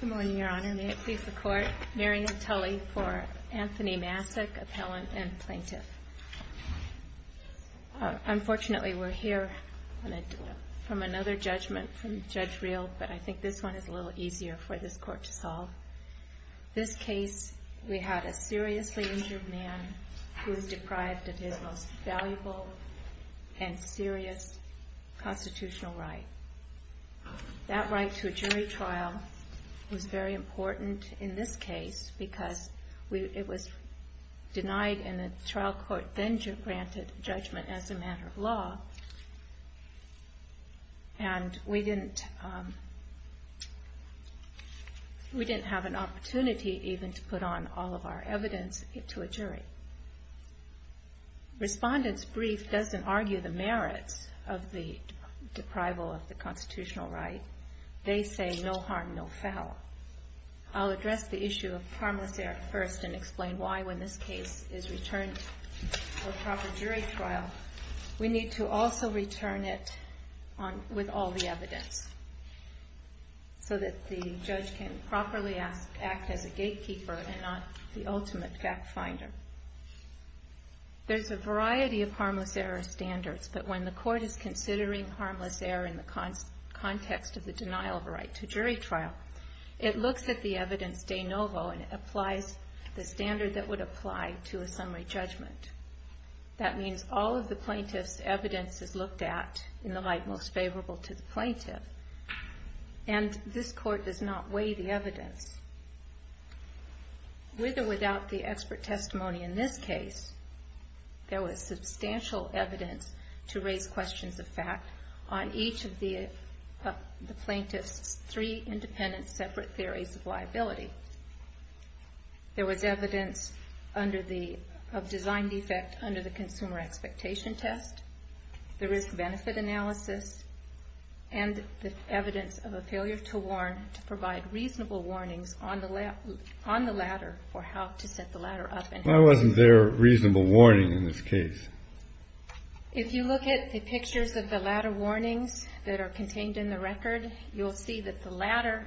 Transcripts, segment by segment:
Good morning, Your Honor. May it please the Court, Marion Tully for Anthony Massok, Appellant and Plaintiff. Unfortunately, we're here from another judgment from Judge Reel, but I think this one is a little easier for this Court to solve. This case, we had a seriously injured man who was deprived of his most valuable and serious constitutional right. That right to a jury trial was very important in this case because it was denied and the trial court then granted judgment as a matter of law. And we didn't have an opportunity even to put on all of our evidence to a jury. Respondent's brief doesn't argue the merits of the deprival of the constitutional right. They say, no harm, no foul. I'll address the issue of harmless error first and explain why, when this case is returned for proper jury trial, we need to also return it with all the evidence so that the judge can properly act as a gatekeeper and not the ultimate fact finder. There's a variety of harmless error standards, but when the Court is considering harmless error in the context of the denial of a right to jury trial, it looks at the evidence de novo and applies the standard that would apply to a summary judgment. That means all of the plaintiff's evidence is looked at in the light most favorable to the plaintiff. And this Court does not weigh the evidence. With or without the expert testimony in this case, there was substantial evidence to raise questions of fact on each of the plaintiff's three independent separate theories of liability. There was evidence of design defect under the consumer expectation test, the risk-benefit analysis, and the evidence of a failure to warn to provide reasonable warnings on the ladder for how to set the ladder up. Why wasn't there a reasonable warning in this case? If you look at the pictures of the ladder warnings that are contained in the record, you'll see that the ladder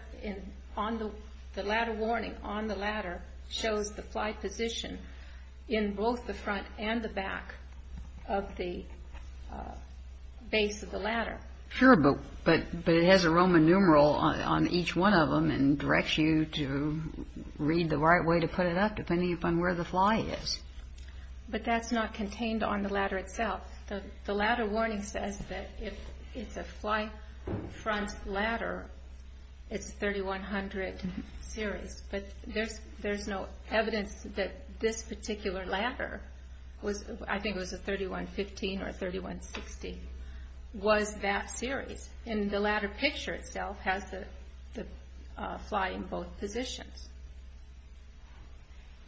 warning on the ladder shows the fly position in both the front and the back of the base of the ladder. Sure, but it has a Roman numeral on each one of them and directs you to read the right way to put it up, depending upon where the fly is. But that's not contained on the ladder itself. The ladder warning says that if it's a fly front ladder, it's 3100 series. But there's no evidence that this particular ladder was, I think it was a 3115 or a 3160, was that series. And the ladder picture itself has the fly in both positions.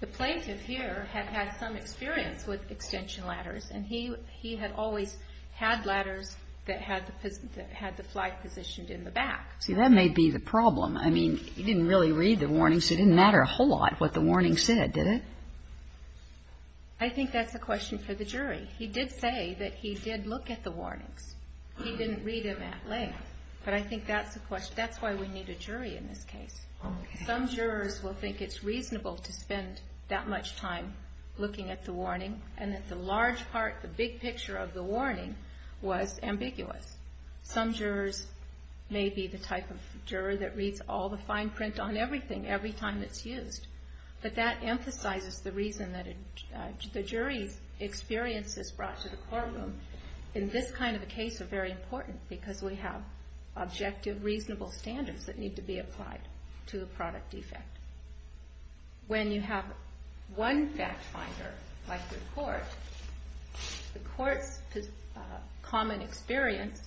The plaintiff here had had some experience with extension ladders, and he had always had ladders that had the fly positioned in the back. See, that may be the problem. I mean, he didn't really read the warnings. It didn't matter a whole lot what the warning said, did it? I think that's a question for the jury. He did say that he did look at the warnings. He didn't read them at length. But I think that's the question. That's why we need a jury in this case. Some jurors will think it's reasonable to spend that much time looking at the warning and that the large part, the big picture of the warning was ambiguous. Some jurors may be the type of juror that reads all the fine print on everything every time it's used. But that emphasizes the reason that the jury's experience is brought to the courtroom. In this kind of a case, they're very important because we have objective, reasonable standards that need to be applied to the product defect. When you have one fact finder like the court, the court's common experience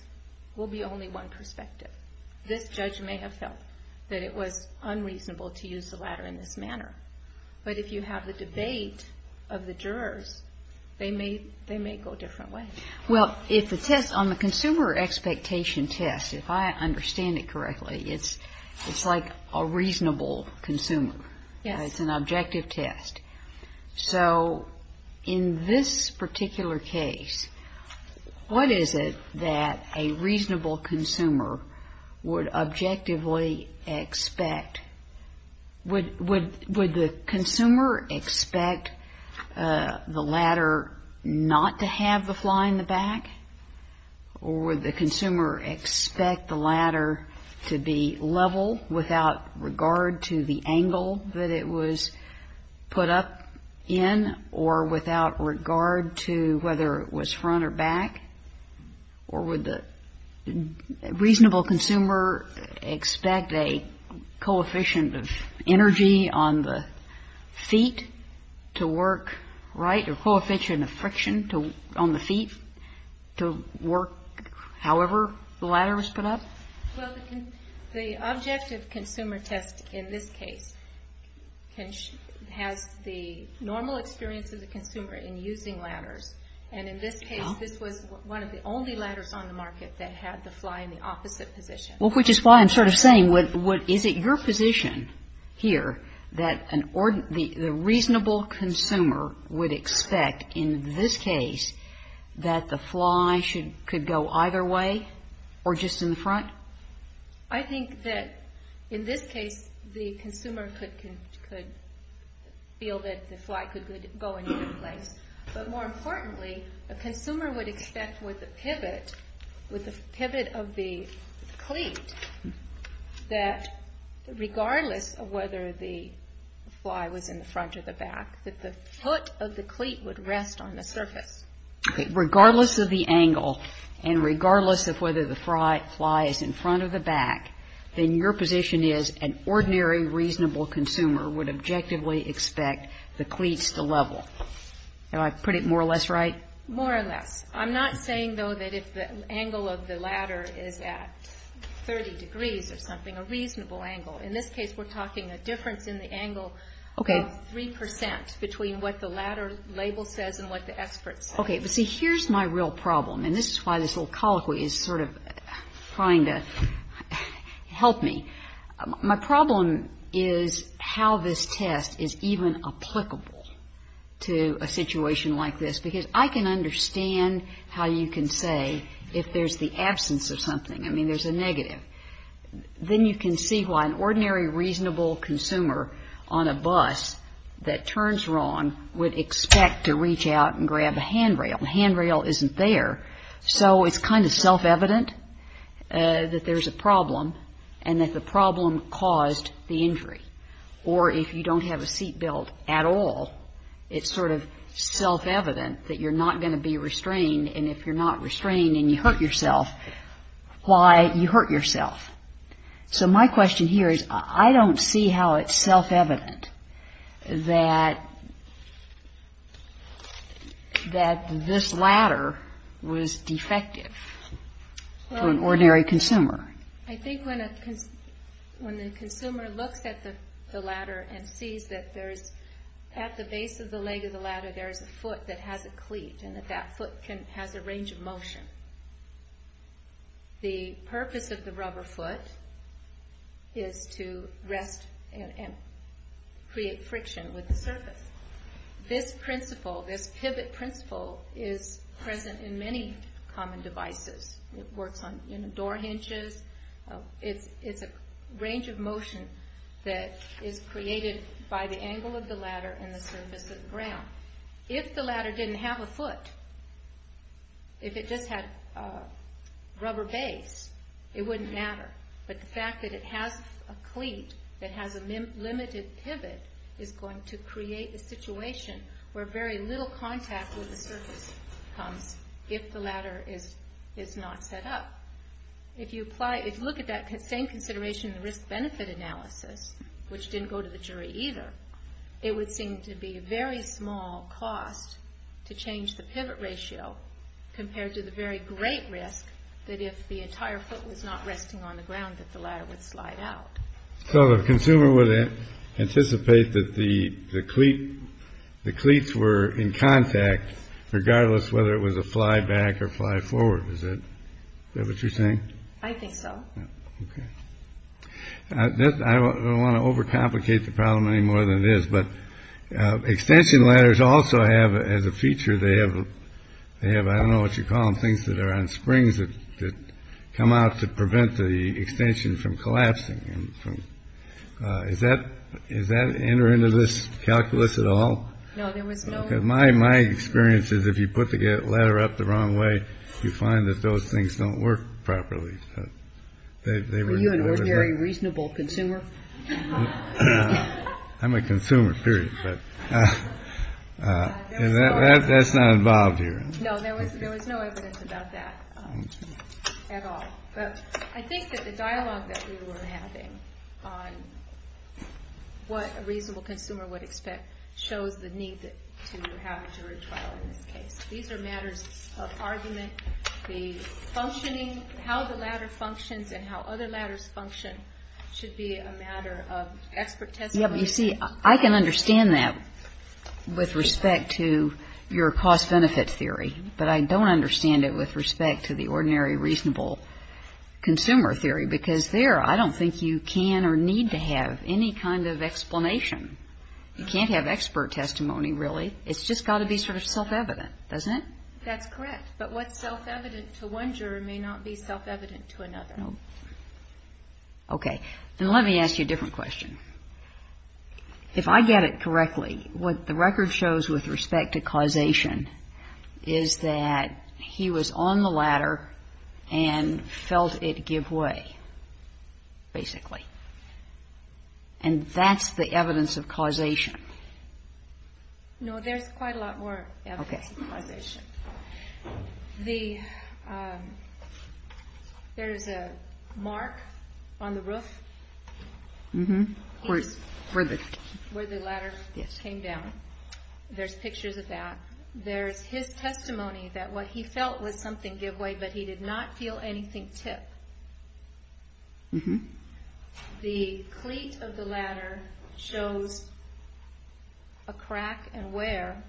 will be only one perspective. This judge may have felt that it was unreasonable to use the ladder in this manner. But if you have the debate of the jurors, they may go different ways. Well, if the test on the consumer expectation test, if I understand it correctly, it's like a reasonable consumer. Yes. It's an objective test. So in this particular case, what is it that a reasonable consumer would objectively expect? Would the consumer expect the ladder not to have the fly in the back? Or would the consumer expect the ladder to be level without regard to the angle that it was put up? In or without regard to whether it was front or back? Or would the reasonable consumer expect a coefficient of energy on the feet to work right? A coefficient of friction on the feet to work however the ladder was put up? Well, the objective consumer test in this case has the normal experience of the consumer in using ladders. And in this case, this was one of the only ladders on the market that had the fly in the opposite position. Well, which is why I'm sort of saying, is it your position here that the reasonable consumer would expect in this case that the fly could go either way or just in the front? I think that in this case, the consumer could feel that the fly could go in either place. But more importantly, a consumer would expect with a pivot of the cleat that regardless of whether the fly was in the front or the back, that the foot of the cleat would rest on the surface. Okay. Regardless of the angle and regardless of whether the fly is in front or the back, then your position is an ordinary reasonable consumer would objectively expect the cleats to level. Do I put it more or less right? More or less. I'm not saying, though, that if the angle of the ladder is at 30 degrees or something, a reasonable angle. In this case, we're talking a difference in the angle of 3 percent between what the ladder label says and what the expert says. Okay. But see, here's my real problem, and this is why this little colloquy is sort of trying to help me. My problem is how this test is even applicable to a situation like this, because I can understand how you can say if there's the absence of something. I mean, there's a negative. Then you can see why an ordinary reasonable consumer on a bus that turns wrong would expect to reach out and grab a handrail. The handrail isn't there, so it's kind of self-evident that there's a problem and that the problem caused the injury. Or if you don't have a seat belt at all, it's sort of self-evident that you're not going to be restrained, and if you're not restrained and you hurt yourself, why you hurt yourself. So my question here is I don't see how it's self-evident that this ladder was defective to an ordinary consumer. I think when the consumer looks at the ladder and sees that at the base of the leg of the ladder there is a foot that has a cleat and that foot has a range of motion, the purpose of the rubber foot is to rest and create friction with the surface. This pivot principle is present in many common devices. It works on door hinges. It's a range of motion that is created by the angle of the ladder and the surface of the ground. If the ladder didn't have a foot, if it just had a rubber base, it wouldn't matter, but the fact that it has a cleat that has a limited pivot is going to create a situation where very little contact with the surface comes if the ladder is not set up. If you look at that same consideration in the risk-benefit analysis, which didn't go to the jury either, it would seem to be a very small cost to change the pivot ratio compared to the very great risk that if the entire foot was not resting on the ground that the ladder would slide out. So the consumer would anticipate that the cleats were in contact regardless whether it was a fly back or fly forward, is that what you're saying? I think so. OK. I don't want to overcomplicate the problem any more than it is. But extension ladders also have as a feature they have. They have I don't know what you call them, things that are on springs that come out to prevent the extension from collapsing. Is that is that enter into this calculus at all? No, there was my my experiences. If you put the letter up the wrong way, you find that those things don't work properly. Are you an ordinary reasonable consumer? I'm a consumer, period. But that's not involved here. No, there was no evidence about that at all. But I think that the dialogue that we were having on what a reasonable consumer would expect shows the need to have jury trial in this case. These are matters of argument, the functioning, how the ladder functions and how other ladders function should be a matter of expert testimony. You see, I can understand that with respect to your cost benefit theory, but I don't understand it with respect to the ordinary reasonable consumer theory. Because there I don't think you can or need to have any kind of explanation. You can't have expert testimony, really. It's just got to be sort of self-evident, doesn't it? That's correct. But what's self-evident to one jury may not be self-evident to another. Okay. And let me ask you a different question. If I get it correctly, what the record shows with respect to causation is that he was on the ladder and felt it give way, basically. And that's the evidence of causation? No, there's quite a lot more evidence of causation. There's a mark on the roof where the ladder came down. There's pictures of that. There's his testimony that what he felt was something give way, but he did not feel anything tip. The cleat of the ladder shows a crack and wear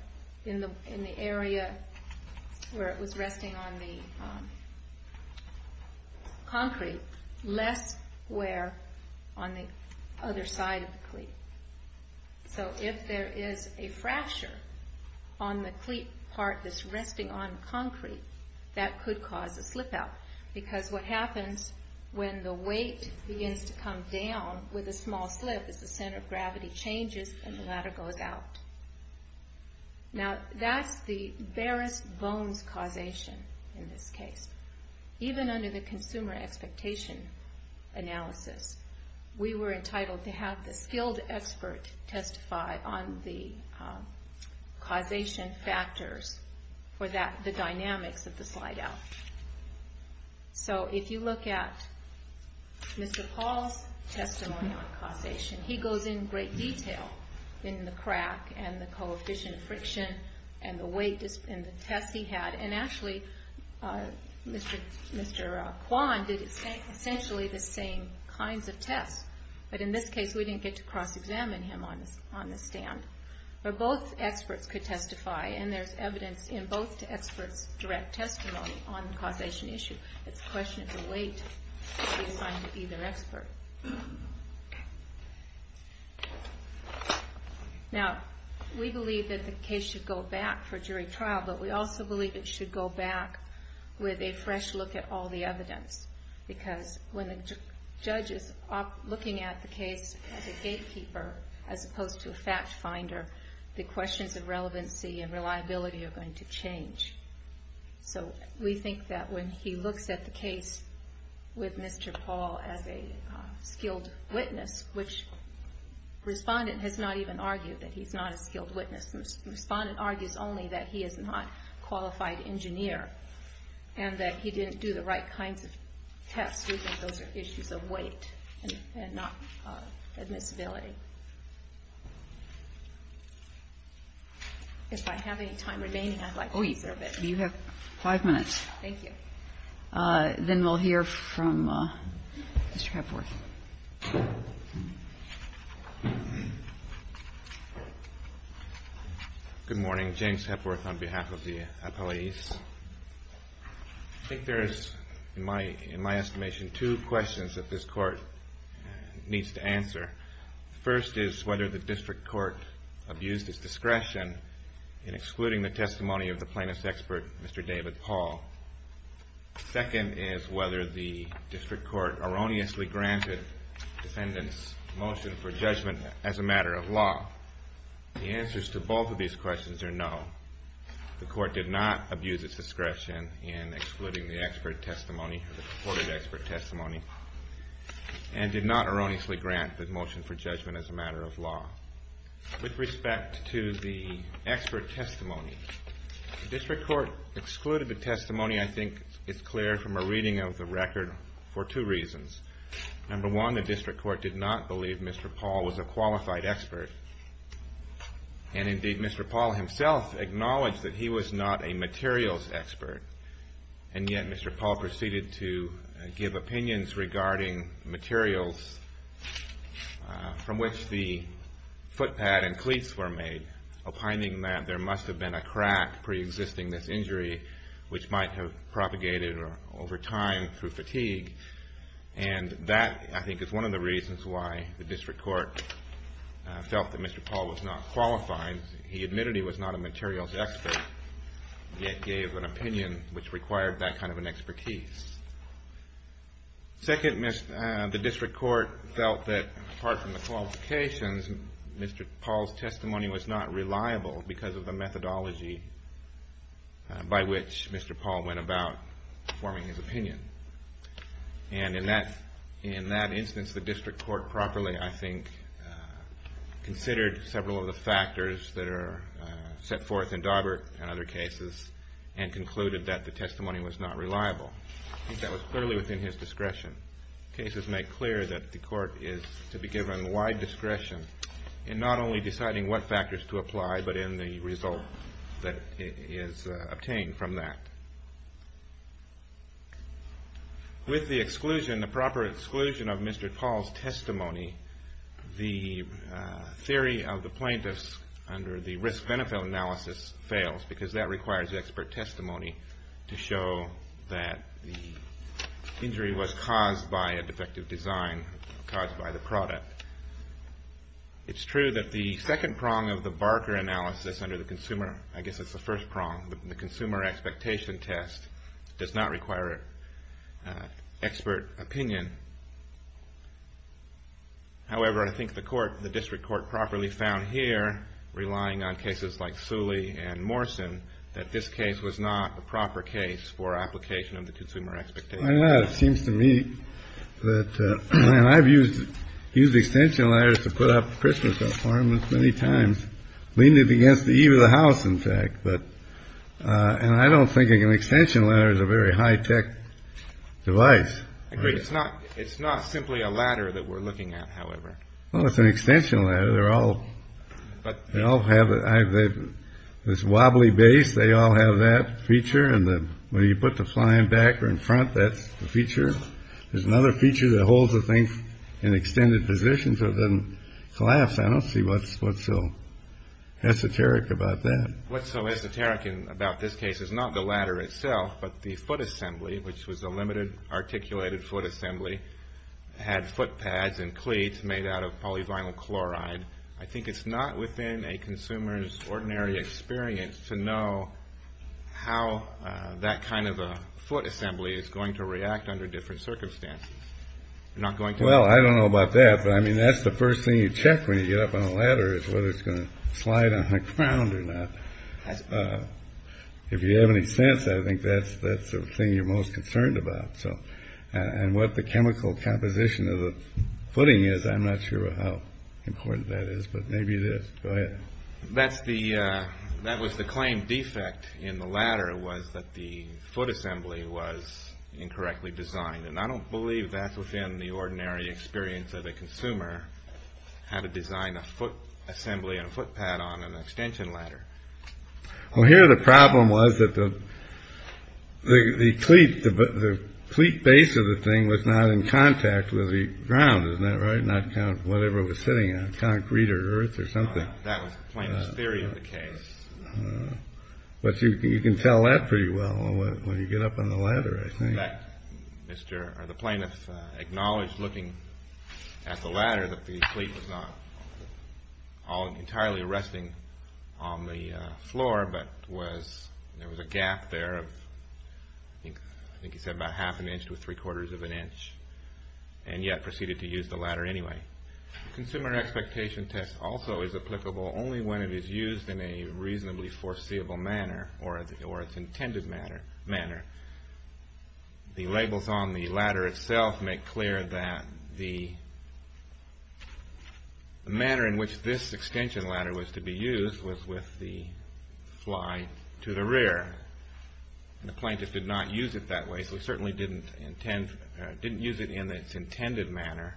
in the area where it was resting on the concrete. Less wear on the other side of the cleat. So if there is a fracture on the cleat part that's resting on concrete, that could cause a slip out. Because what happens when the weight begins to come down with a small slip is the center of gravity changes and the ladder goes out. Now, that's the barest bones causation in this case. Even under the consumer expectation analysis, we were entitled to have the skilled expert testify on the causation factors for the dynamics of the slide out. So if you look at Mr. Paul's testimony on causation, he goes in great detail in the crack and the coefficient of friction and the test he had. And actually, Mr. Kwan did essentially the same kinds of tests, but in this case we didn't get to cross-examine him on the stand. But both experts could testify, and there's evidence in both experts' direct testimony on the causation issue. It's a question of the weight to be assigned to either expert. Now, we believe that the case should go back for jury trial, but we also believe it should go back with a fresh look at all the evidence. Because when the judge is looking at the case as a gatekeeper as opposed to a fact finder, the questions of relevancy and reliability are going to change. So we think that when he looks at the case with Mr. Paul as a skilled witness, which respondent has not even argued that he's not a skilled witness. Respondent argues only that he is not a qualified engineer and that he didn't do the right kinds of tests. We think those are issues of weight and not admissibility. If I have any time remaining, I'd like to reserve it. You have five minutes. Thank you. Then we'll hear from Mr. Hepworth. Good morning. James Hepworth on behalf of the appellees. I think there is, in my estimation, two questions that this Court needs to answer. The first is whether the District Court abused its discretion in excluding the testimony of the plaintiff's expert, Mr. David Paul. The second is whether the District Court erroneously granted the defendant's motion for judgment as a matter of law. The answers to both of these questions are no. The Court did not abuse its discretion in excluding the courted expert testimony and did not erroneously grant the motion for judgment. With respect to the expert testimony, the District Court excluded the testimony. I think it's clear from a reading of the record for two reasons. Number one, the District Court did not believe Mr. Paul was a qualified expert. And indeed, Mr. Paul himself acknowledged that he was not a materials expert. And yet, Mr. Paul proceeded to give opinions regarding materials on the record. From which the footpad and cleats were made, opining that there must have been a crack preexisting this injury, which might have propagated over time through fatigue. And that, I think, is one of the reasons why the District Court felt that Mr. Paul was not qualified. He admitted he was not a materials expert, yet gave an opinion which required that kind of an expertise. Second, the District Court felt that, apart from the qualifications, Mr. Paul's testimony was not reliable because of the methodology by which Mr. Paul went about forming his opinion. And in that instance, the District Court properly, I think, considered several of the factors that are set forth in Daubert and other cases and concluded that the testimony was not reliable. I think that was clearly within his discretion. Cases make clear that the court is to be given wide discretion in not only deciding what factors to apply, but in the result that is obtained from that. With the exclusion, the proper exclusion of Mr. Paul's testimony, the theory of the plaintiffs under the risk-benefit analysis fails because that requires expert testimony to show that the injury was caused by a defective design caused by the product. It's true that the second prong of the Barker analysis under the consumer, I guess it's the first prong, the consumer expectation test, does not require expert opinion. However, I think the court, the District Court, properly found here, relying on cases like Suley and Morrison, that this case was not a proper case for application of the consumer expectation test. It seems to me that, and I've used extension letters to put up Christmas requirements many times, leaning it against the eve of the house, in fact. And I don't think an extension letter is a very high-tech device. It's not simply a ladder that we're looking at, however. Well, it's an extension ladder. They all have this wobbly base. They all have that feature. And when you put the flying back or in front, that's the feature. There's another feature that holds the thing in extended position so it doesn't collapse. I don't see what's so esoteric about that. What's so esoteric about this case is not the ladder itself, but the foot assembly, which was a limited articulated foot assembly, had foot pads and cleats made out of polyvinyl chloride. I think it's not within a consumer's ordinary experience to know how that kind of a foot assembly is going to react under different circumstances. Well, I don't know about that, but that's the first thing you check when you get up on a ladder is whether it's going to slide on the ground or not. If you have any sense, I think that's the thing you're most concerned about. And what the chemical composition of the footing is, I'm not sure how important that is, but maybe it is. Go ahead. That was the claimed defect in the ladder was that the foot assembly was incorrectly designed. And I don't believe that's within the ordinary experience of a consumer, how to design a foot assembly and a foot pad on an extension ladder. Well, here the problem was that the cleat base of the thing was not in contact with the ground. Isn't that right? Not whatever was sitting on it, concrete or earth or something. That was the plainest theory of the case. But you can tell that pretty well when you get up on the ladder, I think. The plaintiff acknowledged looking at the ladder that the cleat was not entirely resting on the floor, but there was a gap there of, I think he said about half an inch to three-quarters of an inch, and yet proceeded to use the ladder anyway. Consumer expectation test also is applicable only when it is used in a reasonably foreseeable manner or its intended manner. The labels on the ladder itself make clear that the manner in which this extension ladder was to be used was with the fly to the rear. The plaintiff did not use it that way, so he certainly didn't use it in its intended manner.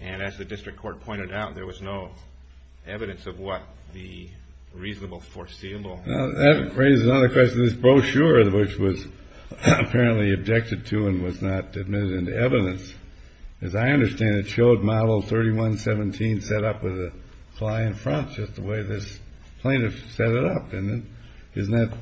And as the district court pointed out, there was no evidence of what the reasonable foreseeable. That raises another question. This brochure, which was apparently objected to and was not admitted into evidence, as I understand it showed Model 3117 set up with a fly in front, just the way this plaintiff set it up. And isn't that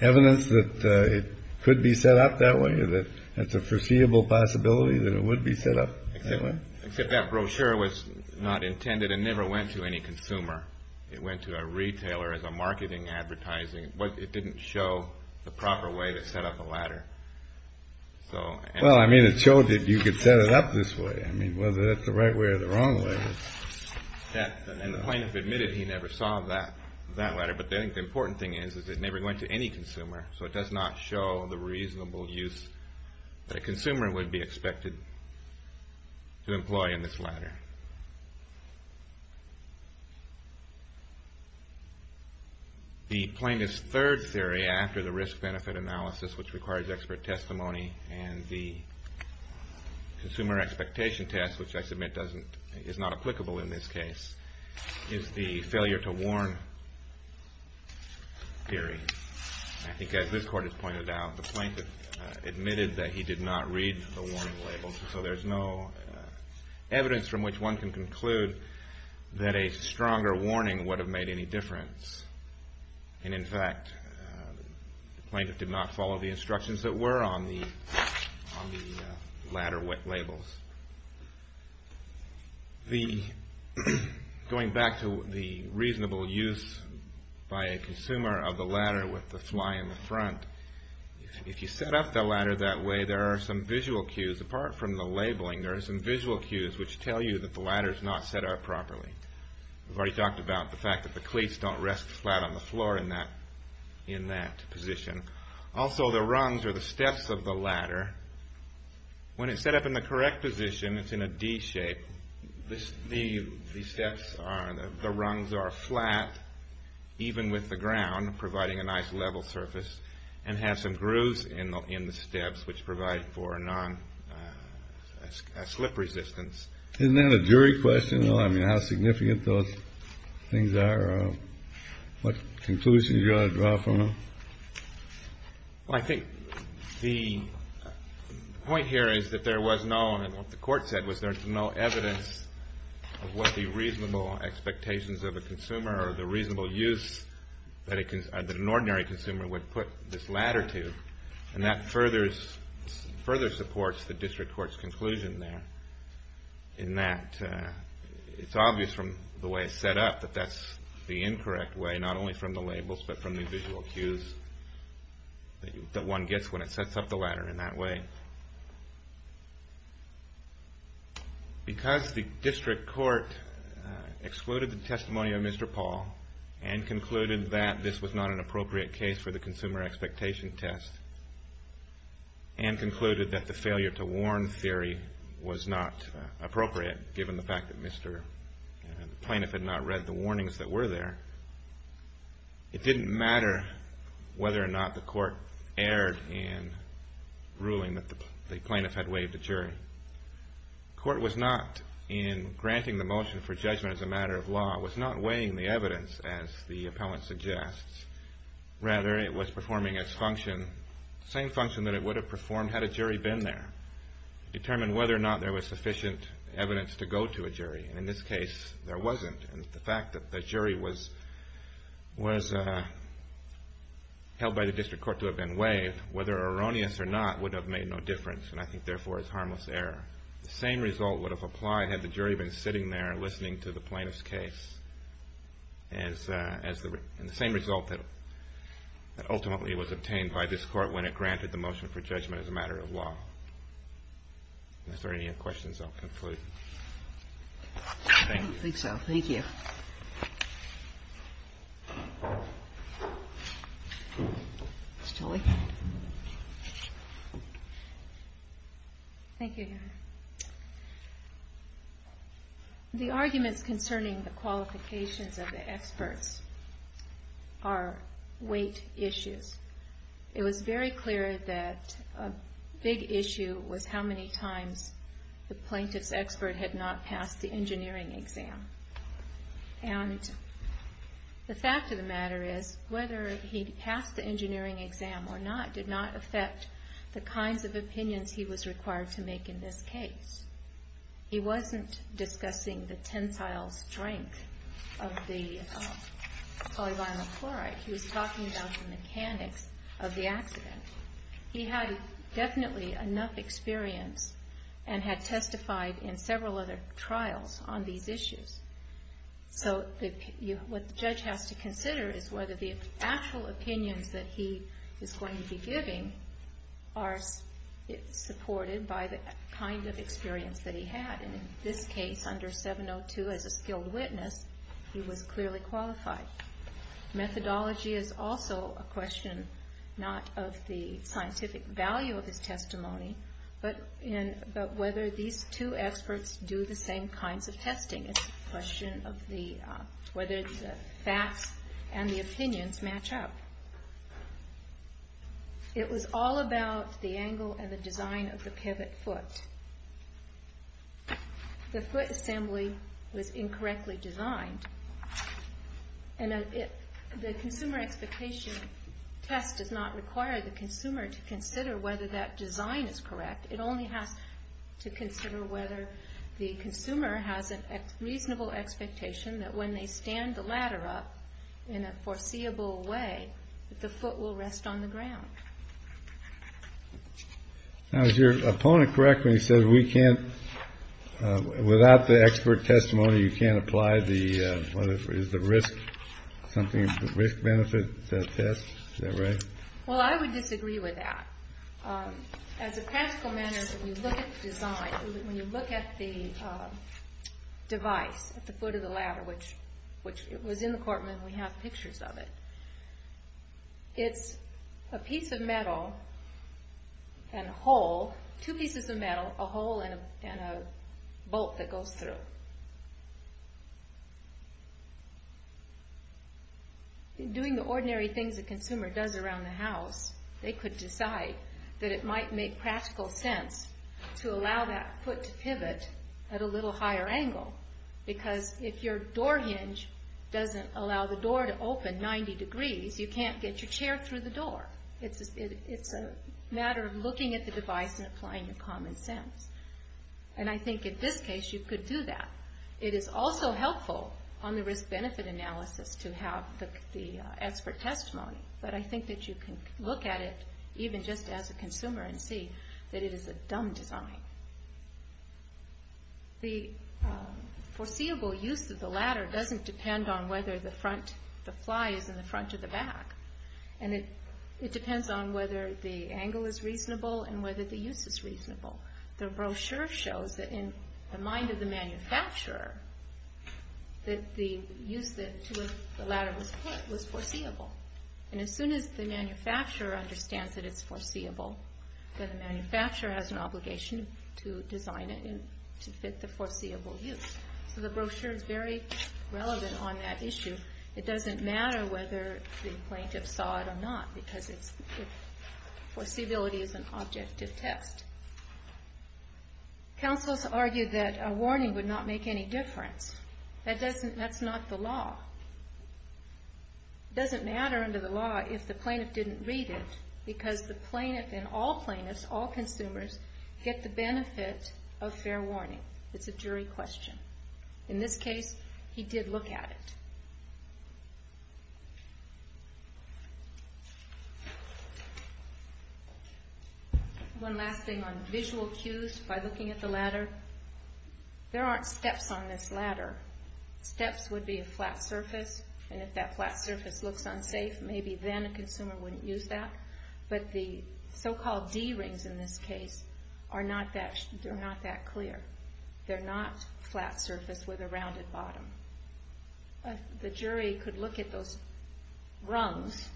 evidence that it could be set up that way, that that's a foreseeable possibility that it would be set up that way? Except that brochure was not intended and never went to any consumer. It went to a retailer as a marketing advertising. But it didn't show the proper way to set up a ladder. Well, I mean, it showed that you could set it up this way. I mean, whether that's the right way or the wrong way. And the plaintiff admitted he never saw that ladder. But I think the important thing is that it never went to any consumer, so it does not show the reasonable use that a consumer would be expected to employ in this ladder. The plaintiff's third theory after the risk-benefit analysis, which requires expert testimony and the consumer expectation test, which I submit is not applicable in this case, is the failure to warn theory. I think, as this Court has pointed out, the plaintiff admitted that he did not read the warning labels. So there's no evidence from which one can conclude that a stronger warning would have made any difference. And, in fact, the plaintiff did not follow the instructions that were on the ladder labels. Going back to the reasonable use by a consumer of the ladder with the fly in the front, if you set up the ladder that way, there are some visual cues. Apart from the labeling, there are some visual cues which tell you that the ladder is not set up properly. We've already talked about the fact that the cleats don't rest flat on the floor in that position. Also, the rungs or the steps of the ladder, when it's set up in the correct position, it's in a D shape. The steps are, the rungs are flat, even with the ground, providing a nice level surface, and have some grooves in the steps which provide for a non-slip resistance. Isn't that a jury question? I mean, how significant those things are, what conclusions you ought to draw from them? Well, I think the point here is that there was no, and what the court said was there's no evidence of what the reasonable expectations of a consumer or the reasonable use that an ordinary consumer would put this ladder to. And that further supports the district court's conclusion there in that it's obvious from the way it's set up that that's the incorrect way, not only from the labels but from the visual cues that one gets when it sets up the ladder in that way. Because the district court excluded the testimony of Mr. Paul and concluded that this was not an appropriate case for the consumer expectation test and concluded that the failure to warn theory was not appropriate, given the fact that the plaintiff had not read the warnings that were there. It didn't matter whether or not the court erred in ruling that the plaintiff had waived a jury. The court was not, in granting the motion for judgment as a matter of law, was not weighing the evidence as the appellant suggests. Rather, it was performing its function, the same function that it would have performed had a jury been there, to determine whether or not there was sufficient evidence to go to a jury. And in this case, there wasn't. And the fact that the jury was held by the district court to have been waived, whether erroneous or not, would have made no difference and I think therefore is harmless error. The same result would have applied had the jury been sitting there listening to the plaintiff's case. And the same result that ultimately was obtained by this court when it granted the motion for judgment as a matter of law. Are there any other questions I'll conclude? I don't think so. Thank you. Thank you, Your Honor. The arguments concerning the qualifications of the experts are weight issues. It was very clear that a big issue was how many times the plaintiff's expert had not passed the engineering exam. And the fact of the matter is, whether he passed the engineering exam or not, did not affect the kinds of opinions he was required to make in this case. He wasn't discussing the tensile strength of the polyvinyl chloride. He was talking about the mechanics of the accident. He had definitely enough experience and had testified in several other trials on these issues. So what the judge has to consider is whether the actual opinions that he is going to be giving are supported by the kind of experience that he had. And in this case, under 702, as a skilled witness, he was clearly qualified. Methodology is also a question, not of the scientific value of his testimony, but whether these two experts do the same kinds of testing. It's a question of whether the facts and the opinions match up. It was all about the angle and the design of the pivot foot. The foot assembly was incorrectly designed. And the consumer expectation test does not require the consumer to consider whether that design is correct. It only has to consider whether the consumer has a reasonable expectation that when they stand the ladder up in a foreseeable way that the foot will rest on the ground. Now, is your opponent correct when he says we can't, without the expert testimony, you can't apply the risk benefit test? Is that right? Well, I would disagree with that. As a practical matter, when you look at the design, when you look at the device at the foot of the ladder, which was in the court when we have pictures of it, it's a piece of metal and a hole, two pieces of metal, a hole and a bolt that goes through. Doing the ordinary things a consumer does around the house, they could decide that it might make practical sense to allow that foot to pivot at a little higher angle. Because if your door hinge doesn't allow the door to open 90 degrees, you can't get your chair through the door. It's a matter of looking at the device and applying your common sense. And I think in this case you could do that. It is also helpful on the risk benefit analysis to have the expert testimony. But I think that you can look at it even just as a consumer and see that it is a dumb design. The foreseeable use of the ladder doesn't depend on whether the fly is in the front or the back. And it depends on whether the angle is reasonable and whether the use is reasonable. The brochure shows that in the mind of the manufacturer that the use to which the ladder was put was foreseeable. And as soon as the manufacturer understands that it's foreseeable, then the manufacturer has an obligation to design it to fit the foreseeable use. So the brochure is very relevant on that issue. It doesn't matter whether the plaintiff saw it or not because foreseeability is an objective test. Counselors argued that a warning would not make any difference. That's not the law. It doesn't matter under the law if the plaintiff didn't read it because the plaintiff and all plaintiffs, all consumers, get the benefit of fair warning. It's a jury question. In this case, he did look at it. One last thing on visual cues by looking at the ladder. There aren't steps on this ladder. Steps would be a flat surface, and if that flat surface looks unsafe, maybe then a consumer wouldn't use that. But the so-called D rings in this case are not that clear. They're not flat surface with a rounded bottom. The jury could look at those rungs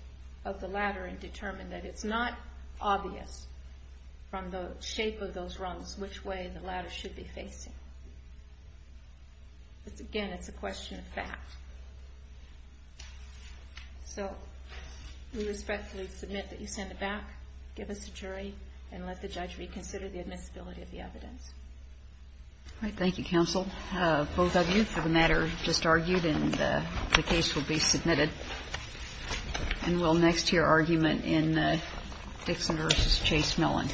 of the ladder and determine that it's not obvious from the shape of those rungs which way the ladder should be facing. Again, it's a question of fact. So we respectfully submit that you send it back, give us a jury, and let the judge reconsider the admissibility of the evidence. All right. Thank you, counsel. Both of you for the matter just argued, and the case will be submitted. And we'll next hear argument in Dixon v. Chase-Millan. Thank you.